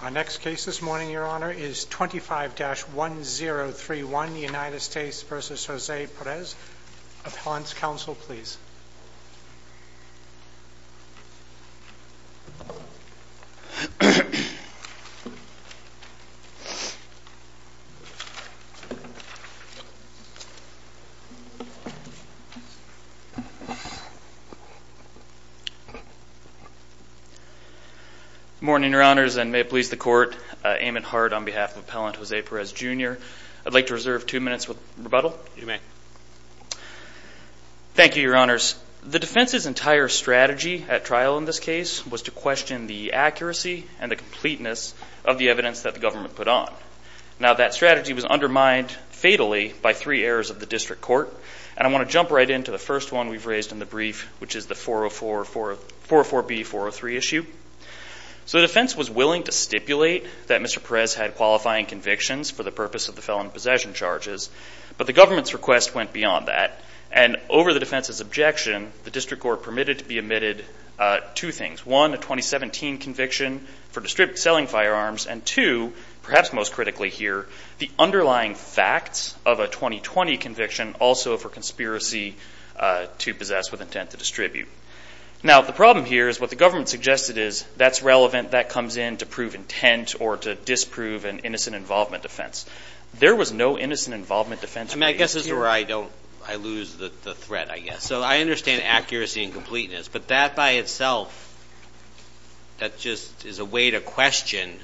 Our next case this morning, your honor, is 25-1031, United States v. Jose Perez. Appellant's counsel, please. Good morning, your honors, and may it please the court, Eamon Hart on behalf of Appellant Jose Perez, Jr. I'd like to reserve two minutes with rebuttal. You may. Thank you, your honors. The defense's entire strategy at trial in this case was to question the accuracy and the completeness of the evidence that the government put on. Now that strategy was undermined fatally by three errors of the district court, and I want to jump right into the first one we've raised in the brief, which is the 404B-403 issue. So the defense was willing to stipulate that Mr. Perez had qualifying convictions for the purpose of the felon possession charges, but the government's request went beyond that. And over the defense's objection, the district court permitted to be omitted two things. One, a 2017 conviction for selling firearms, and two, perhaps most critically here, the underlying facts of a 2020 conviction also for conspiracy to possess with intent to distribute. Now the problem here is what the government suggested is that's relevant, that comes in to prove intent or to disprove an innocent involvement defense. There was no innocent involvement defense. I mean, I guess this is where I don't, I lose the threat, I guess. So I understand accuracy and completeness, but that by itself, that just is a way to question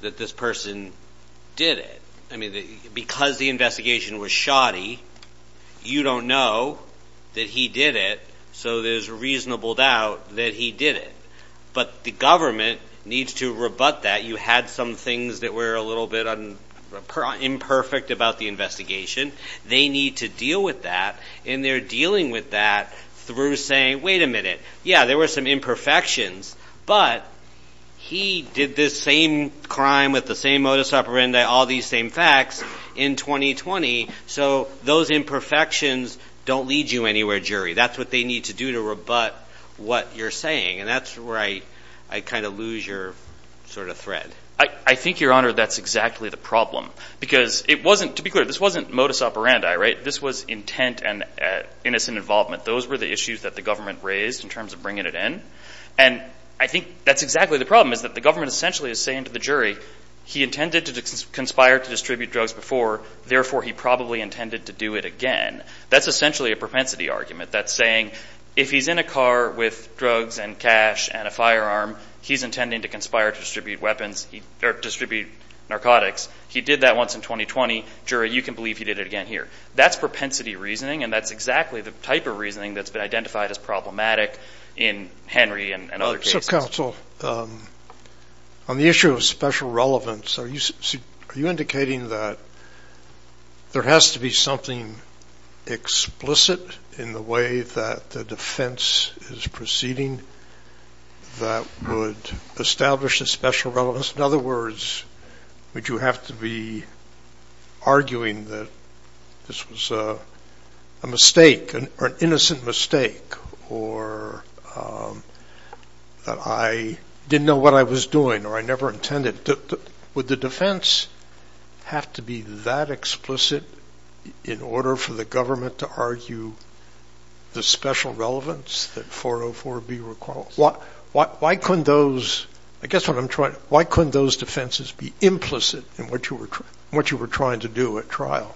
that this person did it. I mean, because the investigation was shoddy, you don't know that he did it, so there's a reasonable doubt that he did it. But the government needs to rebut that. You had some things that were a little bit imperfect about the investigation. They need to deal with that, and they're dealing with that through saying, wait a minute, yeah, there were some imperfections, but he did this same crime with the same modus operandi, all these same facts in 2020, so those imperfections don't lead you anywhere, jury. That's what they need to do to rebut what you're saying. And that's where I kind of lose your sort of threat. I think, Your Honor, that's exactly the problem, because it wasn't, to be clear, this wasn't modus operandi, right? This was intent and innocent involvement. Those were the issues that the government raised in terms of bringing it in, and I think that's exactly the problem, is that the government essentially is saying to the jury, he intended to conspire to distribute drugs before, therefore he probably intended to do it again. That's essentially a propensity argument. That's saying, if he's in a car with drugs and cash and a firearm, he's intending to conspire to distribute weapons, or distribute narcotics. He did that once in 2020, jury, you can believe he did it again here. That's propensity reasoning, and that's exactly the type of reasoning that's been identified as problematic in Henry and other cases. So, counsel, on the issue of special relevance, are you indicating that there has to be something explicit in the way that the defense is proceeding that would establish a special relevance? In other words, would you have to be arguing that this was a mistake, or an innocent mistake, or that I didn't know what I was doing, or I never intended? Would the defense have to be that explicit in order for the government to argue the special relevance that 404B recalls? Why couldn't those defenses be implicit in what you were trying to do at trial?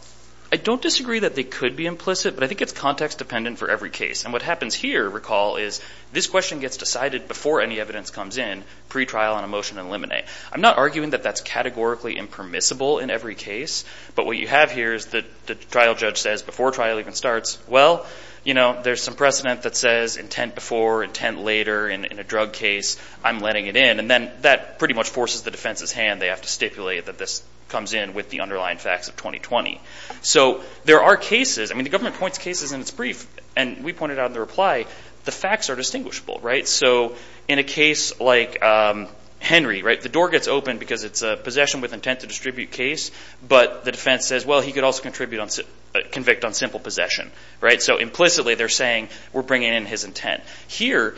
I don't disagree that they could be implicit, but I think it's context dependent for every case. And what happens here, recall, is this question gets decided before any evidence comes in pre-trial on a motion in limine. I'm not arguing that that's categorically impermissible in every case, but what you have here is the trial judge says, before trial even starts, well, you know, there's some precedent that says intent before, intent later, in a drug case, I'm letting it in, and then that pretty much forces the defense's hand. They have to stipulate that this comes in with the underlying facts of 2020. So there are cases, I mean, the government points cases in its brief, and we pointed out in the reply, the facts are distinguishable, right? So in a case like Henry, right, the door gets open because it's a possession with intent to distribute case, but the defense says, well, he could also convict on simple possession, right? So implicitly, they're saying, we're bringing in his intent. Here,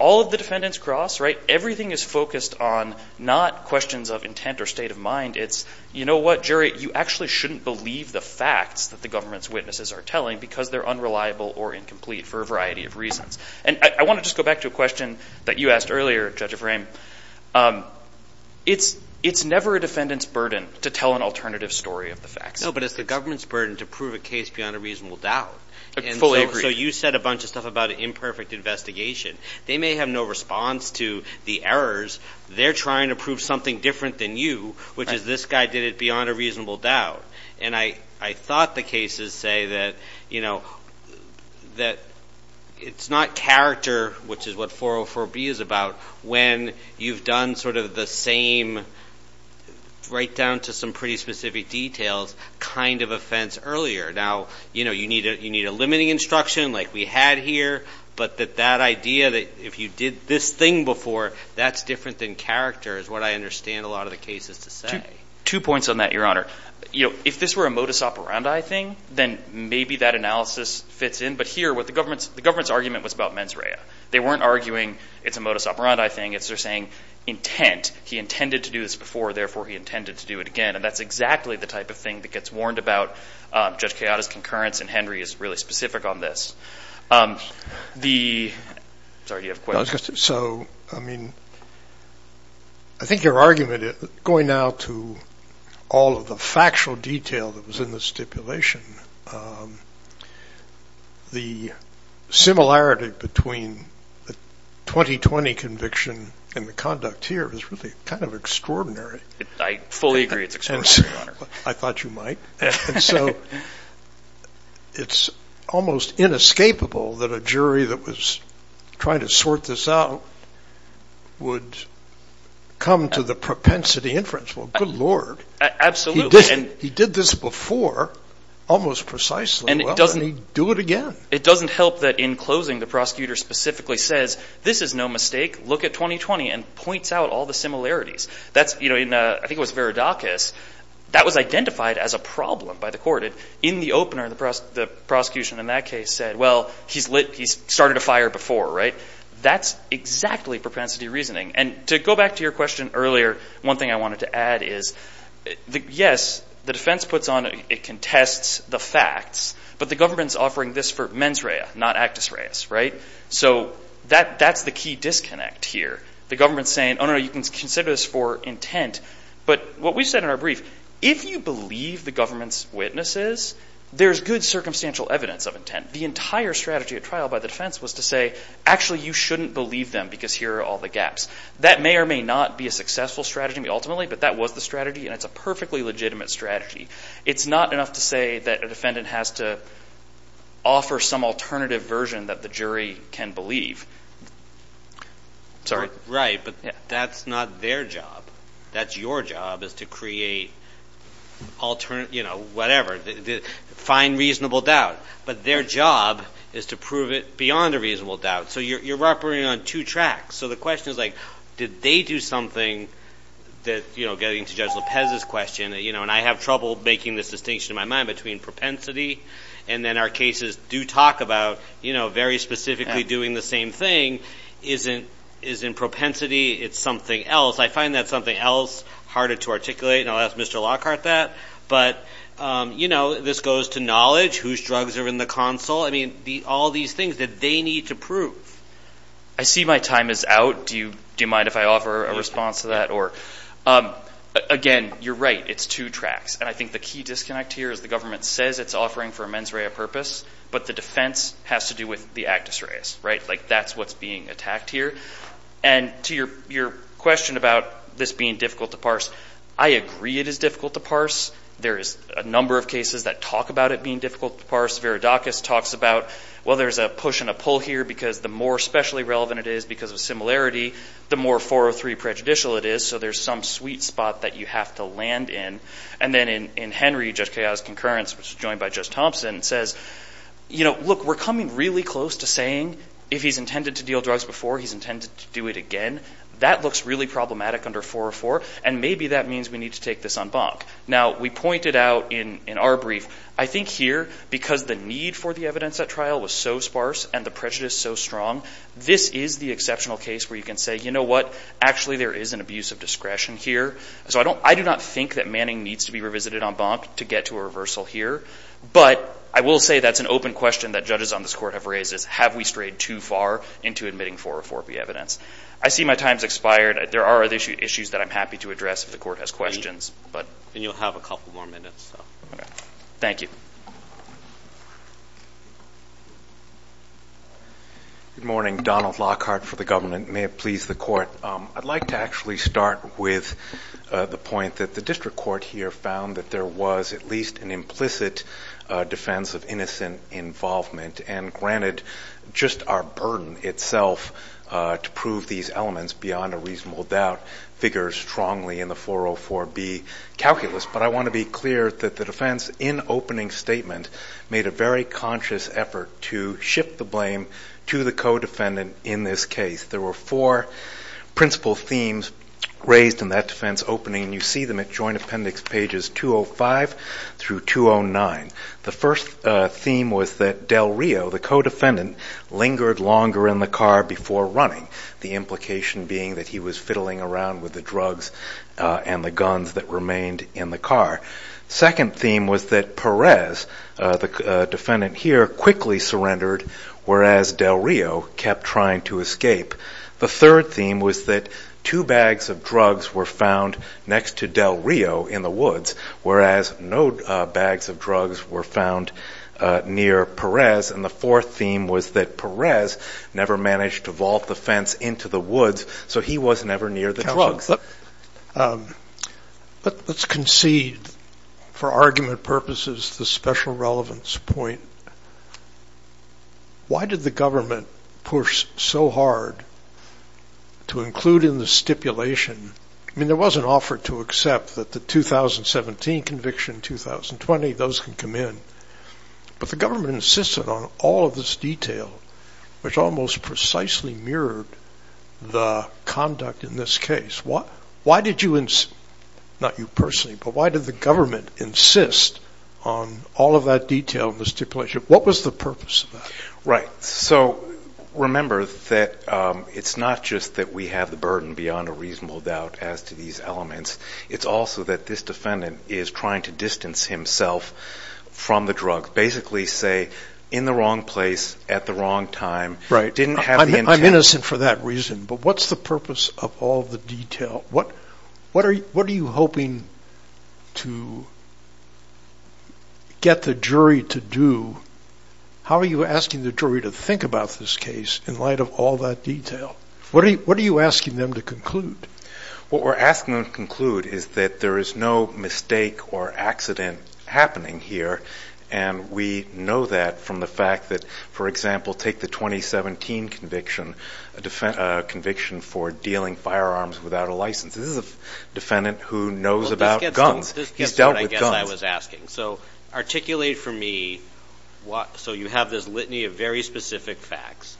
all of the defendants cross, right? Everything is focused on not questions of intent or state of mind, it's, you know what, Jerry, you actually shouldn't believe the facts that the government's witnesses are telling because they're unreliable or incomplete for a variety of reasons. And I want to just go back to a question that you asked earlier, Judge Ephraim. It's never a defendant's burden to tell an alternative story of the facts. No, but it's the government's burden to prove a case beyond a reasonable doubt. I fully agree. And so you said a bunch of stuff about an imperfect investigation. They may have no response to the errors. They're trying to prove something different than you, which is this guy did it beyond a reasonable doubt. And I thought the cases say that, you know, that it's not character, which is what 404B is about, when you've done sort of the same, right down to some pretty specific details, kind of offense earlier. Now, you know, you need a limiting instruction like we had here, but that that idea that if you did this thing before, that's different than character is what I understand a lot of the cases to say. Two points on that, Your Honor. You know, if this were a modus operandi thing, then maybe that analysis fits in. But here, what the government's argument was about mens rea. They weren't arguing it's a modus operandi thing. It's they're saying intent. He intended to do this before, therefore, he intended to do it again. And that's exactly the type of thing that gets warned about Judge Kayada's concurrence, and Henry is really specific on this. The, sorry, do you have a question? So, I mean, I think your argument going out to all of the factual detail that was in the stipulation, the similarity between the 2020 conviction and the conduct here is really kind of extraordinary. I fully agree it's extraordinary, Your Honor. I thought you might. So, it's almost inescapable that a jury that was trying to sort this out would come to the propensity inference. Well, good Lord. Absolutely. He did this before almost precisely. And he doesn't do it again. It doesn't help that in closing, the prosecutor specifically says, this is no mistake. Look at 2020 and points out all the similarities. I think it was Veridakis. That was identified as a problem by the court. In the opener, the prosecution in that case said, well, he's started a fire before, right? That's exactly propensity reasoning. And to go back to your question earlier, one thing I wanted to add is, yes, the defense puts on, it contests the facts, but the government's offering this for mens rea, not actus reas, right? So, that's the key disconnect here. The government's saying, oh, no, no, you can consider this for intent. But what we said in our brief, if you believe the government's witnesses, there's good circumstantial evidence of intent. The entire strategy at trial by the defense was to say, actually, you shouldn't believe them because here are all the gaps. That may or may not be a successful strategy, ultimately, but that was the strategy, and it's a perfectly legitimate strategy. It's not enough to say that a defendant has to offer some alternative version that the jury can believe. Sorry. Right, but that's not their job. That's your job, is to create alternative, you know, whatever. Find reasonable doubt. But their job is to prove it beyond a reasonable doubt. So, you're operating on two tracks. So, the question is, like, did they do something that, you know, getting to Judge Lopez's question, you know, and I have trouble making this distinction in my mind between propensity and then our cases do talk about, you know, very specifically doing the same thing, isn't propensity. It's something else. I find that something else, harder to articulate, and I'll ask Mr. Lockhart that, but, you know, this goes to knowledge, whose drugs are in the console. I mean, all these things that they need to prove. I see my time is out. Do you mind if I offer a response to that? Again, you're right. It's two tracks. And I think the key disconnect here is the government says it's offering for a mens rea purpose, but the defense has to do with the actus reas, right? Like, that's what's being attacked here. And to your question about this being difficult to parse, I agree it is difficult to parse. There is a number of cases that talk about it being difficult to parse. Verodakis talks about, well, there's a push and a pull here because the more specially relevant it is because of similarity, the more 403 prejudicial it is. So, there's some sweet spot that you have to land in. And then in Henry, Judge Kayada's concurrence, which is joined by Judge Thompson, says, you know, look, we're coming really close to saying if he's intended to deal drugs before, he's intended to do it again. That looks really problematic under 404. And maybe that means we need to take this on bonk. Now, we pointed out in our brief, I think here, because the need for the evidence at trial was so sparse and the prejudice so strong, this is the exceptional case where you can say, you know what, actually there is an abuse of discretion here. So, I do not think that Manning needs to be revisited on bonk to get to a reversal here. But I will say that's an open question that judges on this court have raised is have we strayed too far into admitting 404B evidence? I see my time's expired. There are other issues that I'm happy to address if the court has questions. And you'll have a couple more minutes. Thank you. Good morning. Donald Lockhart for the government. May it please the court. I'd like to actually start with the point that the district court here found that there was at least an implicit defense of innocent involvement. And granted, just our burden itself to prove these elements beyond a reasonable doubt figures strongly in the 404B calculus. But I want to be clear that the defense in opening statement made a very conscious effort to shift the blame to the co-defendant in this case. There were four principal themes raised in that defense opening. You see them at joint appendix pages 205 through 209. The first theme was that Del Rio, the co-defendant, lingered longer in the car before running, the implication being that he was fiddling around with the drugs and the guns that remained in the car. Second theme was that Perez, the defendant here, quickly surrendered, whereas Del Rio kept trying to escape. The third theme was that two bags of drugs were found next to Del Rio in the woods, whereas no bags of drugs were found near Perez. And the fourth theme was that Perez never managed to vault the fence into the woods, so he was never near the drugs. But let's concede for argument purposes the special relevance point. Why did the government push so hard to include in the stipulation, I mean, there was an offer to accept that the 2017 conviction, 2020, those can come in, but the government insisted on all of this detail, which almost precisely mirrored the conduct in this case. Why did you, not you personally, but why did the government insist on all of that detail in the stipulation? What was the purpose of that? Right. So, remember that it's not just that we have the burden beyond a reasonable doubt as to these elements, it's also that this defendant is trying to distance himself from the drug. Basically say, in the wrong place, at the wrong time, didn't have the intent. I'm innocent for that reason, but what's the purpose of all the detail? What are you hoping to get the jury to do? How are you asking the jury to think about this case in light of all that detail? What are you asking them to conclude? What we're asking them to conclude is that there is no mistake or accident happening here and we know that from the fact that, for example, take the 2017 conviction, a conviction for dealing firearms without a license. This is a defendant who knows about guns. He's dealt with guns. This is what I guess I was asking. So, articulate for me, so you have this litany of very specific facts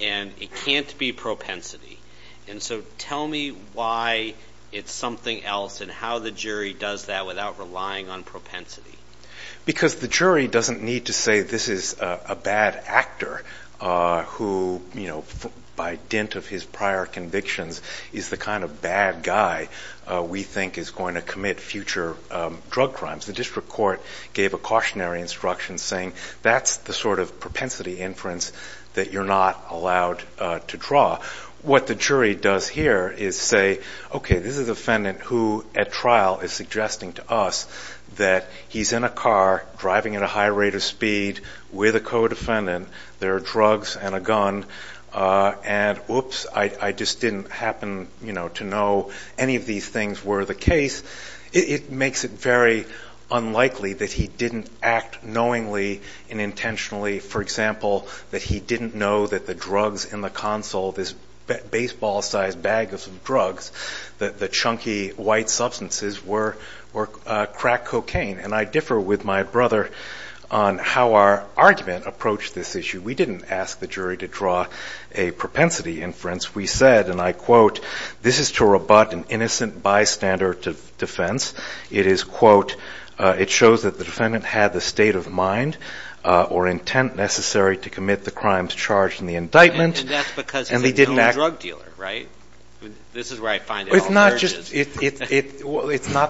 and it can't be propensity. And so, tell me why it's something else and how the jury does that without relying on propensity. Because the jury doesn't need to say this is a bad actor who, by dint of his prior convictions, is the kind of bad guy we think is going to commit future drug crimes. The district court gave a cautionary instruction saying that's the sort of propensity inference that you're not allowed to draw. What the jury does here is say, okay, this is a defendant who, at trial, is suggesting to us that he's in a car driving at a high rate of speed with a co-defendant. There are drugs and a gun. And whoops, I just didn't happen to know any of these things were the case. It makes it very unlikely that he didn't act knowingly and intentionally. For example, that he didn't know that the drugs in the console, this baseball-sized bag of drugs, the chunky white substances, were crack cocaine. And I differ with my brother on how our argument approached this issue. We didn't ask the jury to draw a propensity inference. We said, and I quote, this is to rebut an innocent bystander to defense. It is, quote, it shows that the defendant had the state of mind or intent necessary to commit the crimes charged in the indictment. And that's because he's a drug dealer, right? This is where I find it all. It's not the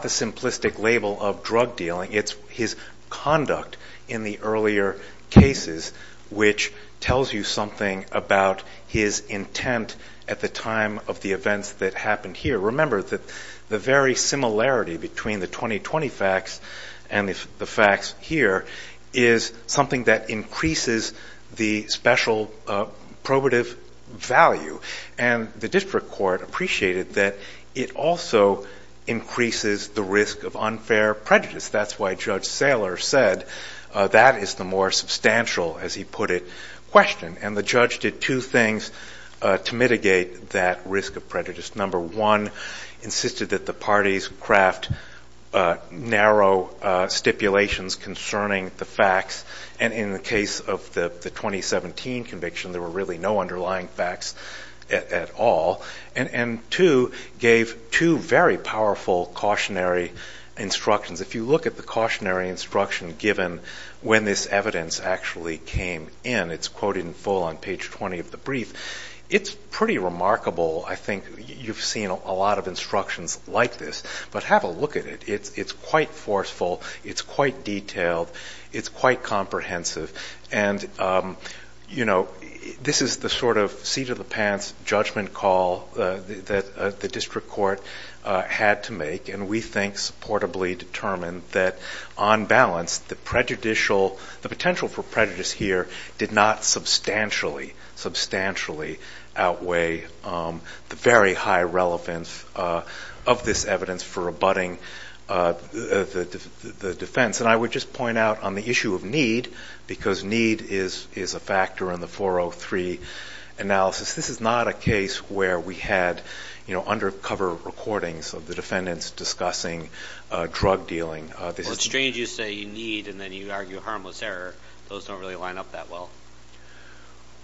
simplistic label of drug dealing. It's his conduct in the earlier cases, which tells you something about his intent at the time of the events that happened here. Remember that the very similarity between the 2020 facts and the facts here is something that increases the special probative value. And the district court appreciated that it also increases the risk of unfair prejudice. That's why Judge Saylor said that is the more substantial, as he put it, question. And the judge did two things to mitigate that risk of prejudice. Number one, insisted that the parties craft narrow stipulations concerning the facts. And in the case of the 2017 conviction, there were really no underlying facts at all. And two, gave two very powerful cautionary instructions. If you look at the cautionary instruction given when this evidence actually came in, it's quoted in full on page 20 of the brief. It's pretty remarkable, I think. You've seen a lot of instructions like this. But have a look at it. It's quite forceful. It's quite detailed. It's quite comprehensive. And this is the sort of seat of the pants judgment call that the district court had to make. And we think, supportably determined, that on balance, the potential for prejudice here did not substantially, substantially outweigh the very high relevance of this evidence for abutting the defense. And I would just point out on the issue of need, because need is a factor in the 403 analysis, this is not a case where we had undercover recordings of the defendants discussing drug dealing. Well, it's strange you say you need, and then you argue harmless error. Those don't really line up that well.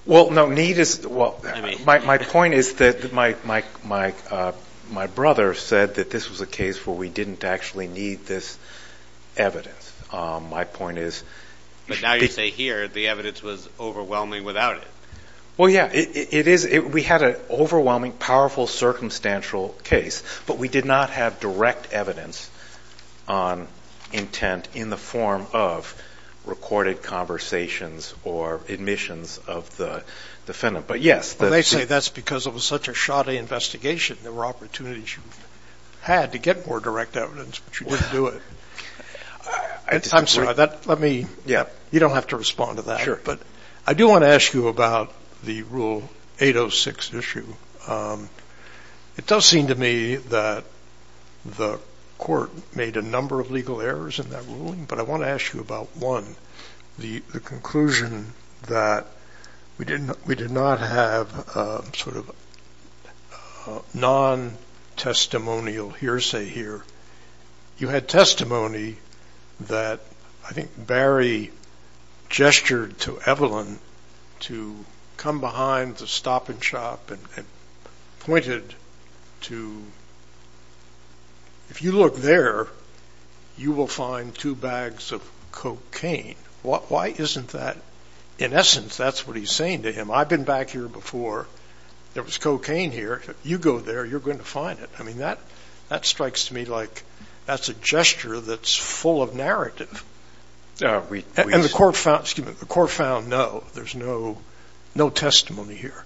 Well, no, need is, well, my point is that my brother said that this was a case where we didn't actually need this evidence. My point is... But now you say here, the evidence was overwhelming without it. Well, yeah. It is. We had an overwhelming, powerful, circumstantial case, but we did not have direct evidence on intent in the form of recorded conversations or admissions of the defendant. But yes, that's... Well, they say that's because it was such a shoddy investigation, there were opportunities you had to get more direct evidence, but you didn't do it. I'm sorry. Let me... Yeah. You don't have to respond to that. Sure. But I do want to ask you about the Rule 806 issue. It does seem to me that the court made a number of legal errors in that ruling, but I want to ask you about one, the conclusion that we did not have sort of non-testimonial hearsay here. You had testimony that I think Barry gestured to Evelyn to come behind the stop and shop and pointed to, if you look there, you will find two bags of cocaine. Why isn't that... In essence, that's what he's saying to him, I've been back here before, there was cocaine here. You go there, you're going to find it. I mean, that strikes me like that's a gesture that's full of narrative. And the court found no. There's no testimony here.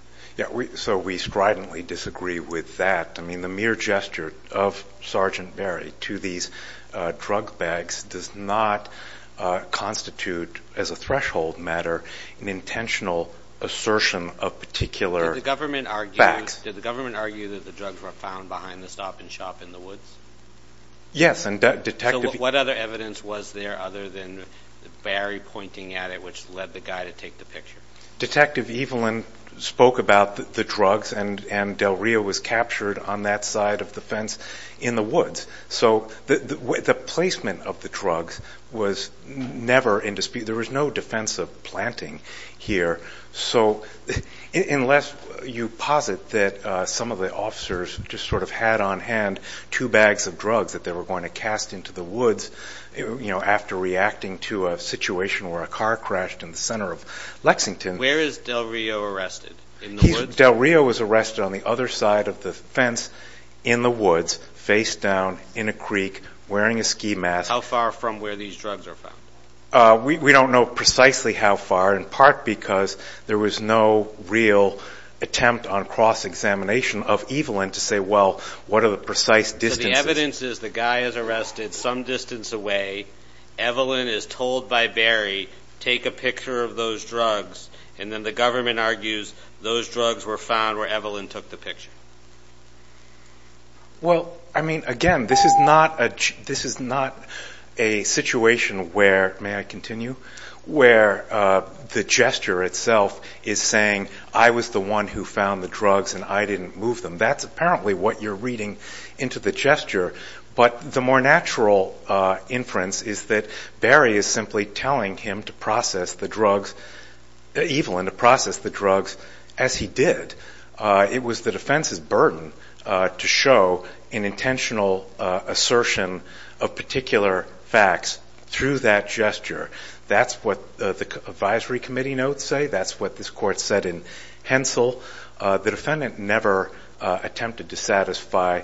So we stridently disagree with that. I mean, the mere gesture of Sergeant Barry to these drug bags does not constitute, as a threshold matter, an intentional assertion of particular bags. Did the government argue that the drugs were found behind the stop and shop in the woods? Yes, and Detective... So what other evidence was there other than Barry pointing at it, which led the guy to take the picture? Detective Evelyn spoke about the drugs and Del Rio was captured on that side of the fence in the woods. So the placement of the drugs was never in dispute. There was no defensive planting here. So unless you posit that some of the officers just sort of had on hand two bags of drugs that they were going to cast into the woods after reacting to a situation where a car Where is Del Rio arrested? In the woods? Del Rio was arrested on the other side of the fence in the woods, face down, in a creek, wearing a ski mask. How far from where these drugs are found? We don't know precisely how far, in part because there was no real attempt on cross-examination of Evelyn to say, well, what are the precise distances? So the evidence is the guy is arrested some distance away. Evelyn is told by Barry, take a picture of those drugs. And then the government argues those drugs were found where Evelyn took the picture. Well, I mean, again, this is not a situation where, may I continue, where the gesture itself is saying, I was the one who found the drugs and I didn't move them. That's apparently what you're reading into the gesture. But the more natural inference is that Barry is simply telling Evelyn to process the drugs as he did. It was the defense's burden to show an intentional assertion of particular facts through that gesture. That's what the advisory committee notes say. That's what this court said in Hensel. The defendant never attempted to satisfy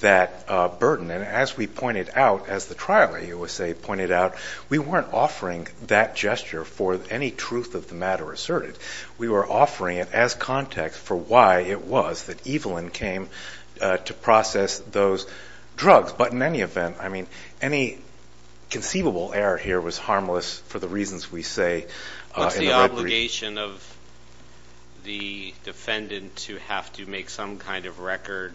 that burden. And as we pointed out, as the trial at USAID pointed out, we weren't offering that gesture for any truth of the matter asserted. We were offering it as context for why it was that Evelyn came to process those drugs. But in any event, I mean, any conceivable error here was harmless for the reasons we say. What's the obligation of the defendant to have to make some kind of record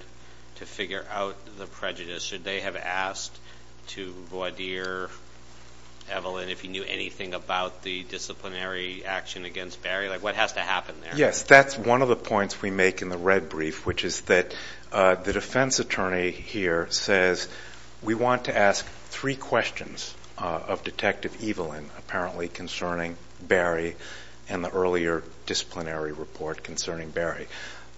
to figure out the prejudice? Should they have asked to voir dire Evelyn if he knew anything about the disciplinary action against Barry? Like, what has to happen there? Yes, that's one of the points we make in the red brief, which is that the defense attorney here says, we want to ask three questions of Detective Evelyn, apparently concerning Barry and the earlier disciplinary report concerning Barry.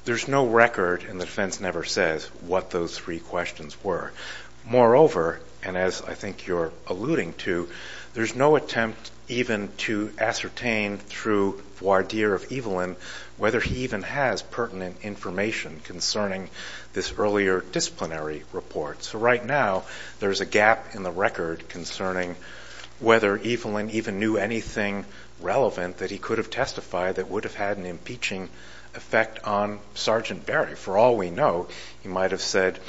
There's no record and the defense never says what those three questions were. Moreover, and as I think you're alluding to, there's no attempt even to ascertain through voir dire of Evelyn whether he even has pertinent information concerning this earlier disciplinary report. So right now, there's a gap in the record concerning whether Evelyn even knew anything relevant that he could have testified that would have had an impeaching effect on Sergeant Barry. For all we know, he might have said,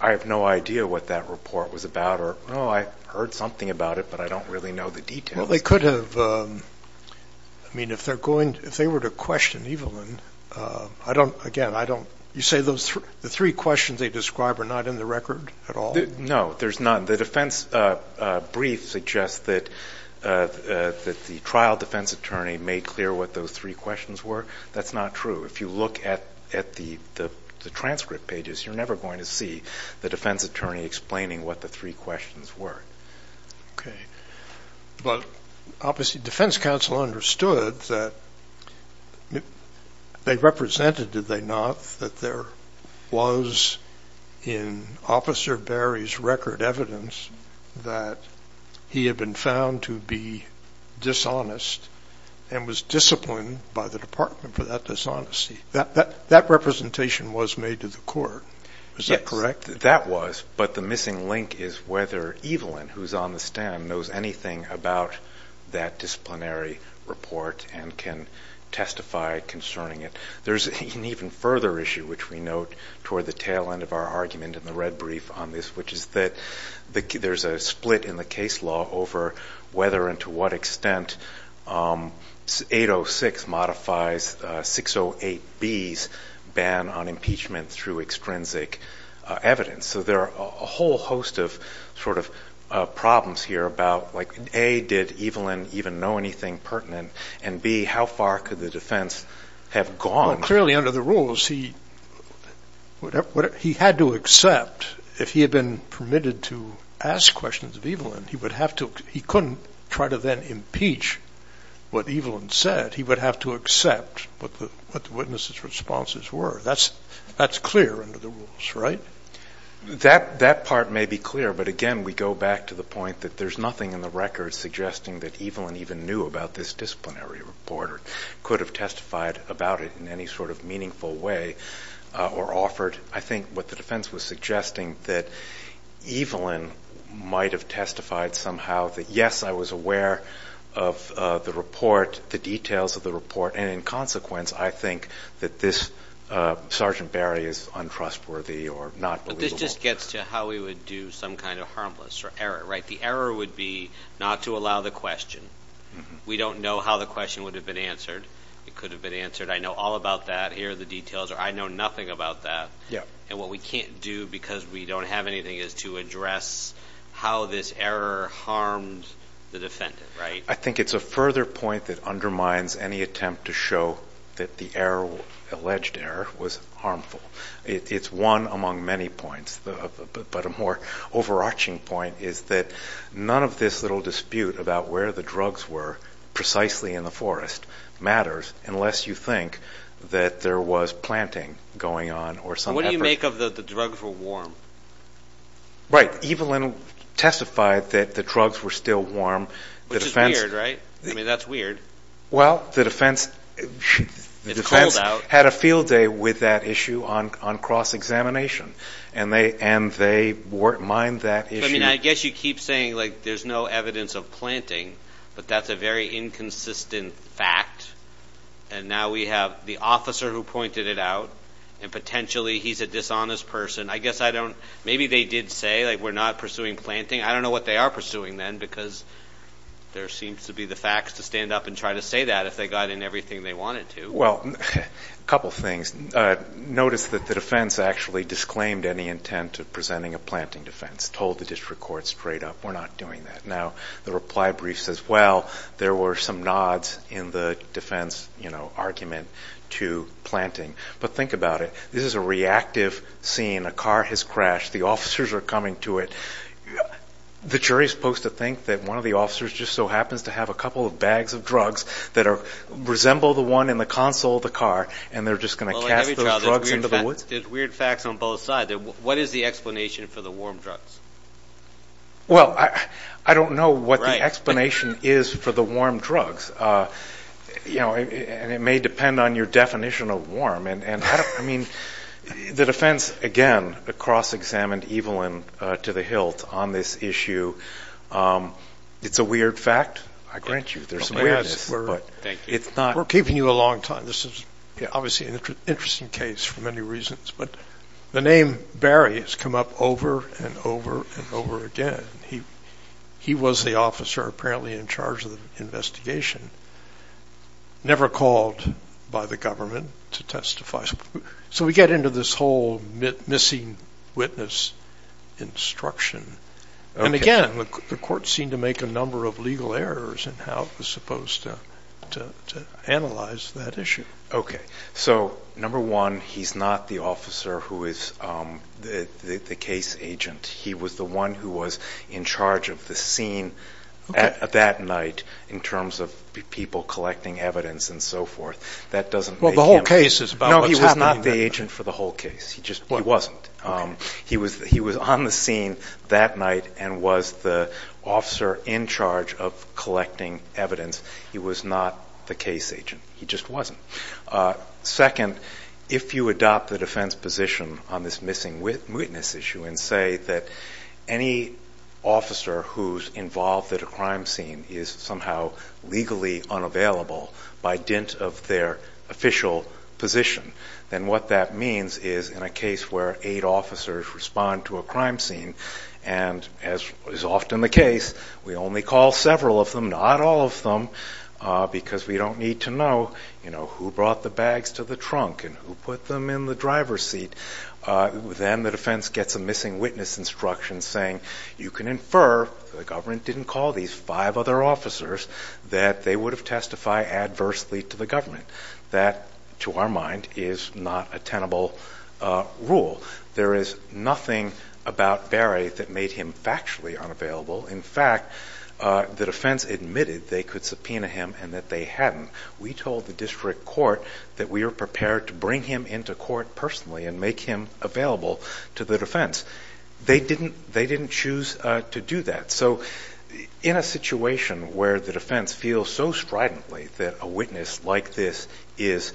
I have no idea what that report was about or, oh, I heard something about it, but I don't really know the details. Well, they could have. I mean, if they were to question Evelyn, I don't, again, I don't, you say the three questions they describe are not in the record at all? No, there's none. The defense brief suggests that the trial defense attorney made clear what those three questions were. That's not true. If you look at the transcript pages, you're never going to see the defense attorney explaining what the three questions were. Okay. But obviously, defense counsel understood that they represented, did they not, that there was in Officer Barry's record evidence that he had been found to be dishonest and was disciplined by the department for that dishonesty. That representation was made to the court. Is that correct? That was, but the missing link is whether Evelyn, who's on the stand, knows anything about that disciplinary report and can testify concerning it. There's an even further issue, which we note toward the tail end of our argument in the red brief on this, which is that there's a split in the case law over whether and to what extent 806 modifies 608B's ban on impeachment through extrinsic evidence. So there are a whole host of sort of problems here about, like, A, did Evelyn even know anything pertinent? And B, how far could the defense have gone? Well, clearly under the rules, he had to accept, if he had been permitted to ask questions of Evelyn, he couldn't try to then impeach what Evelyn said. He would have to accept what the witness's responses were. That's clear under the rules, right? That part may be clear, but again, we go back to the point that there's nothing in the record suggesting that Evelyn even knew about this disciplinary report or could have testified about it in any sort of meaningful way or offered. I think what the defense was suggesting that Evelyn might have testified somehow that, yes, I was aware of the report, the details of the report, and in consequence, I think that this Sergeant Barry is untrustworthy or not believable. But this just gets to how we would do some kind of harmless or error, right? The error would be not to allow the question. We don't know how the question would have been answered. It could have been answered, I know all about that. Here are the details, or I know nothing about that. And what we can't do because we don't have anything is to address how this error harmed the defendant, right? I think it's a further point that undermines any attempt to show that the alleged error was harmful. It's one among many points, but a more overarching point is that none of this little dispute about where the drugs were precisely in the forest matters unless you think that there was planting going on or some effort. What do you make of the drugs were warm? Right. Evelyn testified that the drugs were still warm. Which is weird, right? I mean, that's weird. Well, the defense had a field day with that issue on cross-examination, and they mined that issue. I mean, I guess you keep saying, like, there's no evidence of planting, but that's a very inconsistent fact. And now we have the officer who pointed it out, and potentially he's a dishonest person. I guess I don't know. Maybe they did say, like, we're not pursuing planting. I don't know what they are pursuing then because there seems to be the facts to stand up and try to say that if they got in everything they wanted to. Well, a couple things. Notice that the defense actually disclaimed any intent of presenting a planting defense, told the district court straight up, we're not doing that. Now, the reply brief says, well, there were some nods in the defense argument to planting. But think about it. This is a reactive scene. A car has crashed. The officers are coming to it. The jury is supposed to think that one of the officers just so happens to have a couple of bags of drugs that resemble the one in the console of the car, and they're just going to cast those drugs into the woods? There's weird facts on both sides. What is the explanation for the warm drugs? Well, I don't know what the explanation is for the warm drugs. And it may depend on your definition of warm. I mean, the defense, again, cross-examined Evelyn to the hilt on this issue. It's a weird fact. I grant you there's awareness. We're keeping you a long time. This is obviously an interesting case for many reasons. But the name Barry has come up over and over and over again. He was the officer apparently in charge of the investigation, never called by the government to testify. So we get into this whole missing witness instruction. And, again, the court seemed to make a number of legal errors in how it was supposed to analyze that issue. Okay. So, number one, he's not the officer who is the case agent. He was the one who was in charge of the scene that night in terms of people collecting evidence and so forth. That doesn't make him the agent for the whole case. He wasn't. He was on the scene that night and was the officer in charge of collecting evidence. He was not the case agent. He just wasn't. Second, if you adopt the defense position on this missing witness issue and say that any officer who's involved at a crime scene is somehow legally unavailable by dint of their official position, then what that means is in a case where eight officers respond to a crime scene, and as is often the case, we only call several of them, not all of them, because we don't need to know, you know, who brought the bags to the trunk and who put them in the driver's seat. Then the defense gets a missing witness instruction saying, you can infer that the government didn't call these five other officers, that they would have testified adversely to the government. That, to our mind, is not a tenable rule. There is nothing about Berry that made him factually unavailable. In fact, the defense admitted they could subpoena him and that they hadn't. We told the district court that we were prepared to bring him into court personally and make him available to the defense. They didn't choose to do that. So in a situation where the defense feels so stridently that a witness like this is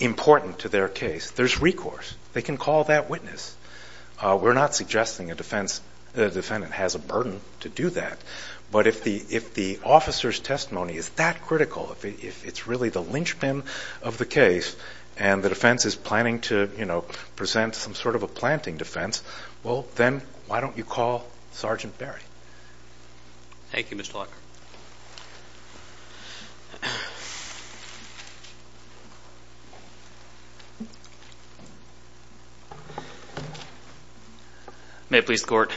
important to their case, there's recourse. They can call that witness. We're not suggesting a defendant has a burden to do that, but if the officer's testimony is that critical, if it's really the linchpin of the case and the defense is planning to, you know, present some sort of a planting defense, well, then why don't you call Sergeant Berry? Thank you, Mr. Talker. May it please the court,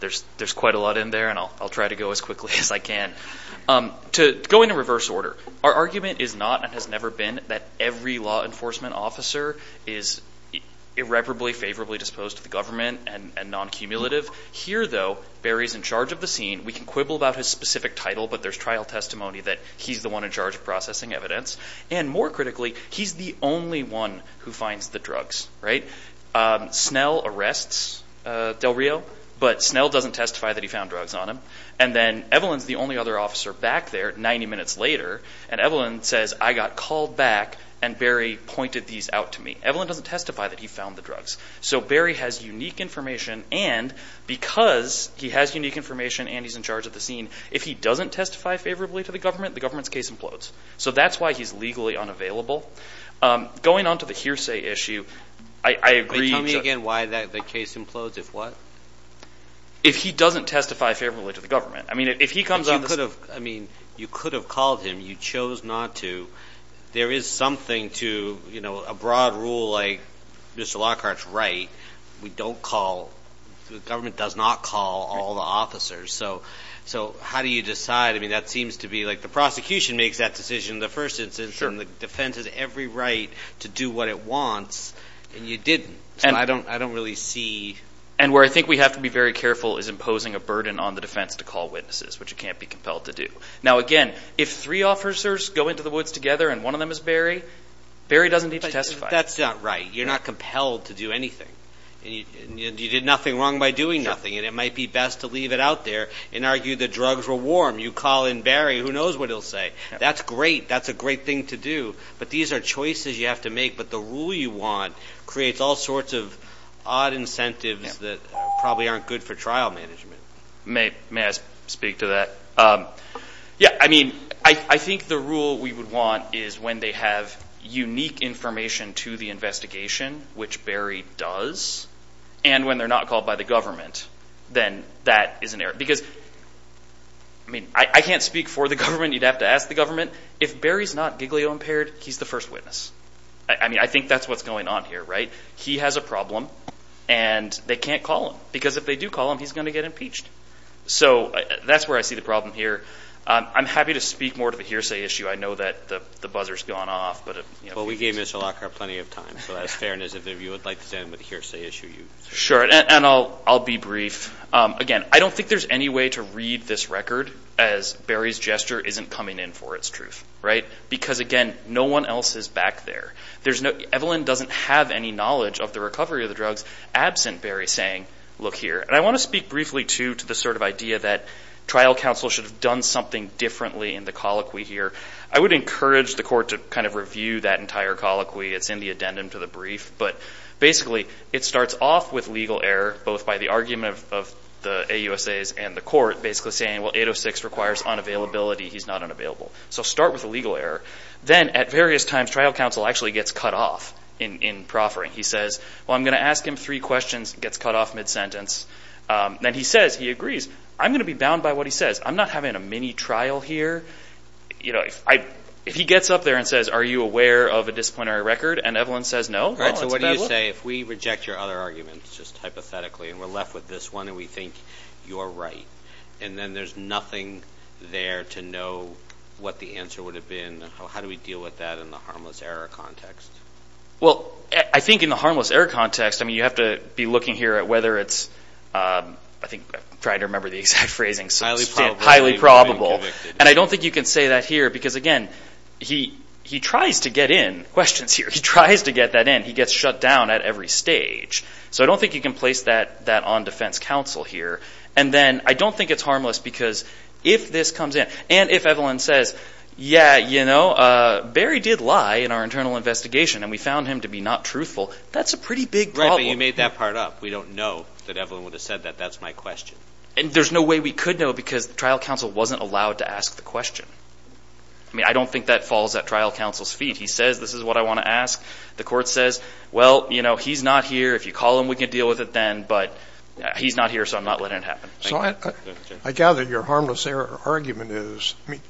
there's quite a lot in there, and I'll try to go as quickly as I can. Going in reverse order, our argument is not and has never been that every law enforcement officer is irreparably, favorably disposed to the government and non-cumulative. Here, though, Berry's in charge of the scene. We can quibble about his specific title, but there's trial testimony that he's the one in charge of processing evidence. And more critically, he's the only one who finds the drugs, right? Snell arrests Del Rio, but Snell doesn't testify that he found drugs on him. And then Evelyn's the only other officer back there 90 minutes later, and Evelyn says, I got called back and Berry pointed these out to me. Evelyn doesn't testify that he found the drugs. So Berry has unique information, and because he has unique information and he's in charge of the scene, if he doesn't testify favorably to the government, the government's case implodes. So that's why he's legally unavailable. Going on to the hearsay issue, I agree. Tell me again why the case implodes, if what? If he doesn't testify favorably to the government. I mean, if he comes on the scene. You could have called him. You chose not to. There is something to a broad rule like Mr. Lockhart's right. We don't call. The government does not call all the officers. So how do you decide? I mean, that seems to be like the prosecution makes that decision in the first instance, and the defense has every right to do what it wants, and you didn't. So I don't really see. And where I think we have to be very careful is imposing a burden on the defense to call witnesses, which it can't be compelled to do. Now, again, if three officers go into the woods together and one of them is Barry, Barry doesn't need to testify. That's not right. You're not compelled to do anything. You did nothing wrong by doing nothing, and it might be best to leave it out there and argue the drugs were warm. You call in Barry, who knows what he'll say. That's great. That's a great thing to do. But these are choices you have to make. But the rule you want creates all sorts of odd incentives that probably aren't good for trial management. May I speak to that? Yeah, I mean, I think the rule we would want is when they have unique information to the investigation, which Barry does, and when they're not called by the government, then that is an error. Because, I mean, I can't speak for the government. You'd have to ask the government. If Barry's not giglio-impaired, he's the first witness. I mean, I think that's what's going on here, right? He has a problem, and they can't call him. Because if they do call him, he's going to get impeached. So that's where I see the problem here. I'm happy to speak more to the hearsay issue. I know that the buzzer's gone off. Well, we gave Mr. Lockhart plenty of time, so that's fair. And as if you would like to stand with the hearsay issue. Sure, and I'll be brief. Again, I don't think there's any way to read this record as Barry's gesture isn't coming in for its truth, right? Because, again, no one else is back there. Evelyn doesn't have any knowledge of the recovery of the drugs absent Barry saying, look here. And I want to speak briefly, too, to the sort of idea that trial counsel should have done something differently in the colloquy here. I would encourage the court to kind of review that entire colloquy. It's in the addendum to the brief. But, basically, it starts off with legal error, both by the argument of the AUSAs and the court, basically saying, well, 806 requires unavailability. He's not unavailable. So start with the legal error. Then, at various times, trial counsel actually gets cut off in proffering. He says, well, I'm going to ask him three questions, gets cut off mid-sentence. Then he says, he agrees, I'm going to be bound by what he says. I'm not having a mini-trial here. If he gets up there and says, are you aware of a disciplinary record, and Evelyn says no, well, it's a bad look. All right, so what do you say if we reject your other arguments, just hypothetically, and we're left with this one and we think you're right, and then there's nothing there to know what the answer would have been? How do we deal with that in the harmless error context? Well, I think in the harmless error context, I mean, you have to be looking here at whether it's, I'm trying to remember the exact phrasing, highly probable. And I don't think you can say that here because, again, he tries to get in. Questions here. He tries to get that in. He gets shut down at every stage. So I don't think you can place that on defense counsel here. And then I don't think it's harmless because if this comes in, and if Evelyn says, yeah, you know, Barry did lie in our internal investigation, and we found him to be not truthful, that's a pretty big problem. Right, but you made that part up. We don't know that Evelyn would have said that. That's my question. And there's no way we could know because the trial counsel wasn't allowed to ask the question. I mean, I don't think that falls at trial counsel's feet. He says this is what I want to ask. The court says, well, you know, he's not here. If you call him, we can deal with it then. But he's not here, so I'm not letting it happen. So I gather your harmless argument is, I mean,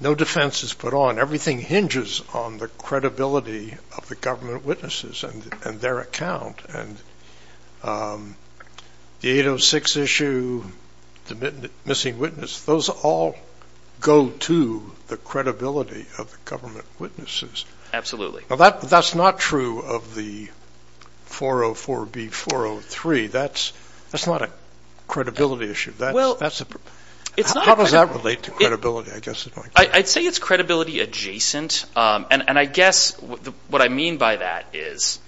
no defense is put on. Everything hinges on the credibility of the government witnesses and their account. And the 806 issue, the missing witness, those all go to the credibility of the government witnesses. Absolutely. Well, that's not true of the 404B403. That's not a credibility issue. How does that relate to credibility, I guess? I'd say it's credibility adjacent, and I guess what I mean by that is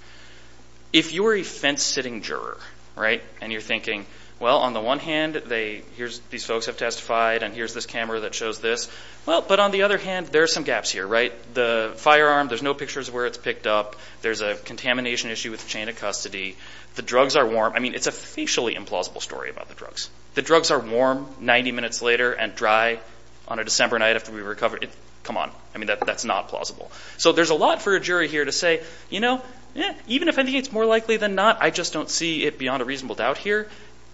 if you were a fence-sitting juror, right, and you're thinking, well, on the one hand, these folks have testified, and here's this camera that shows this. Well, but on the other hand, there are some gaps here, right? The firearm, there's no pictures of where it's picked up. There's a contamination issue with the chain of custody. The drugs are warm. I mean, it's a facially implausible story about the drugs. The drugs are warm 90 minutes later and dry on a December night after we recovered. Come on. I mean, that's not plausible. So there's a lot for a jury here to say, you know, even if I think it's more likely than not, I just don't see it beyond a reasonable doubt here.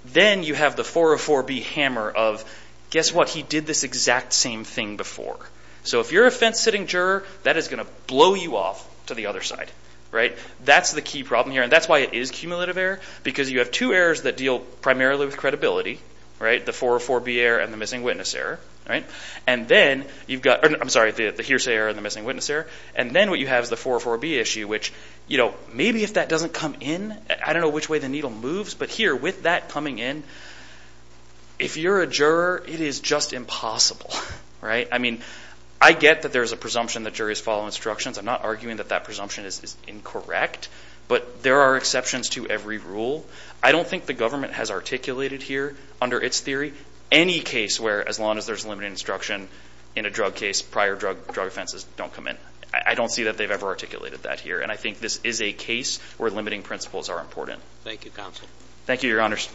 Then you have the 404B hammer of, guess what? He did this exact same thing before. So if you're a fence-sitting juror, that is going to blow you off to the other side, right? That's the key problem here, and that's why it is cumulative error, because you have two errors that deal primarily with credibility, right? The 404B error and the missing witness error, right? And then you've got, I'm sorry, the hearsay error and the missing witness error, and then what you have is the 404B issue, which, you know, maybe if that doesn't come in, I don't know which way the needle moves, but here, with that coming in, if you're a juror, it is just impossible, right? I mean, I get that there's a presumption that juries follow instructions. I'm not arguing that that presumption is incorrect, but there are exceptions to every rule. I don't think the government has articulated here, under its theory, any case where as long as there's limited instruction in a drug case, prior drug offenses don't come in. I don't see that they've ever articulated that here, and I think this is a case where limiting principles are important. Thank you, counsel. Thank you, Your Honors.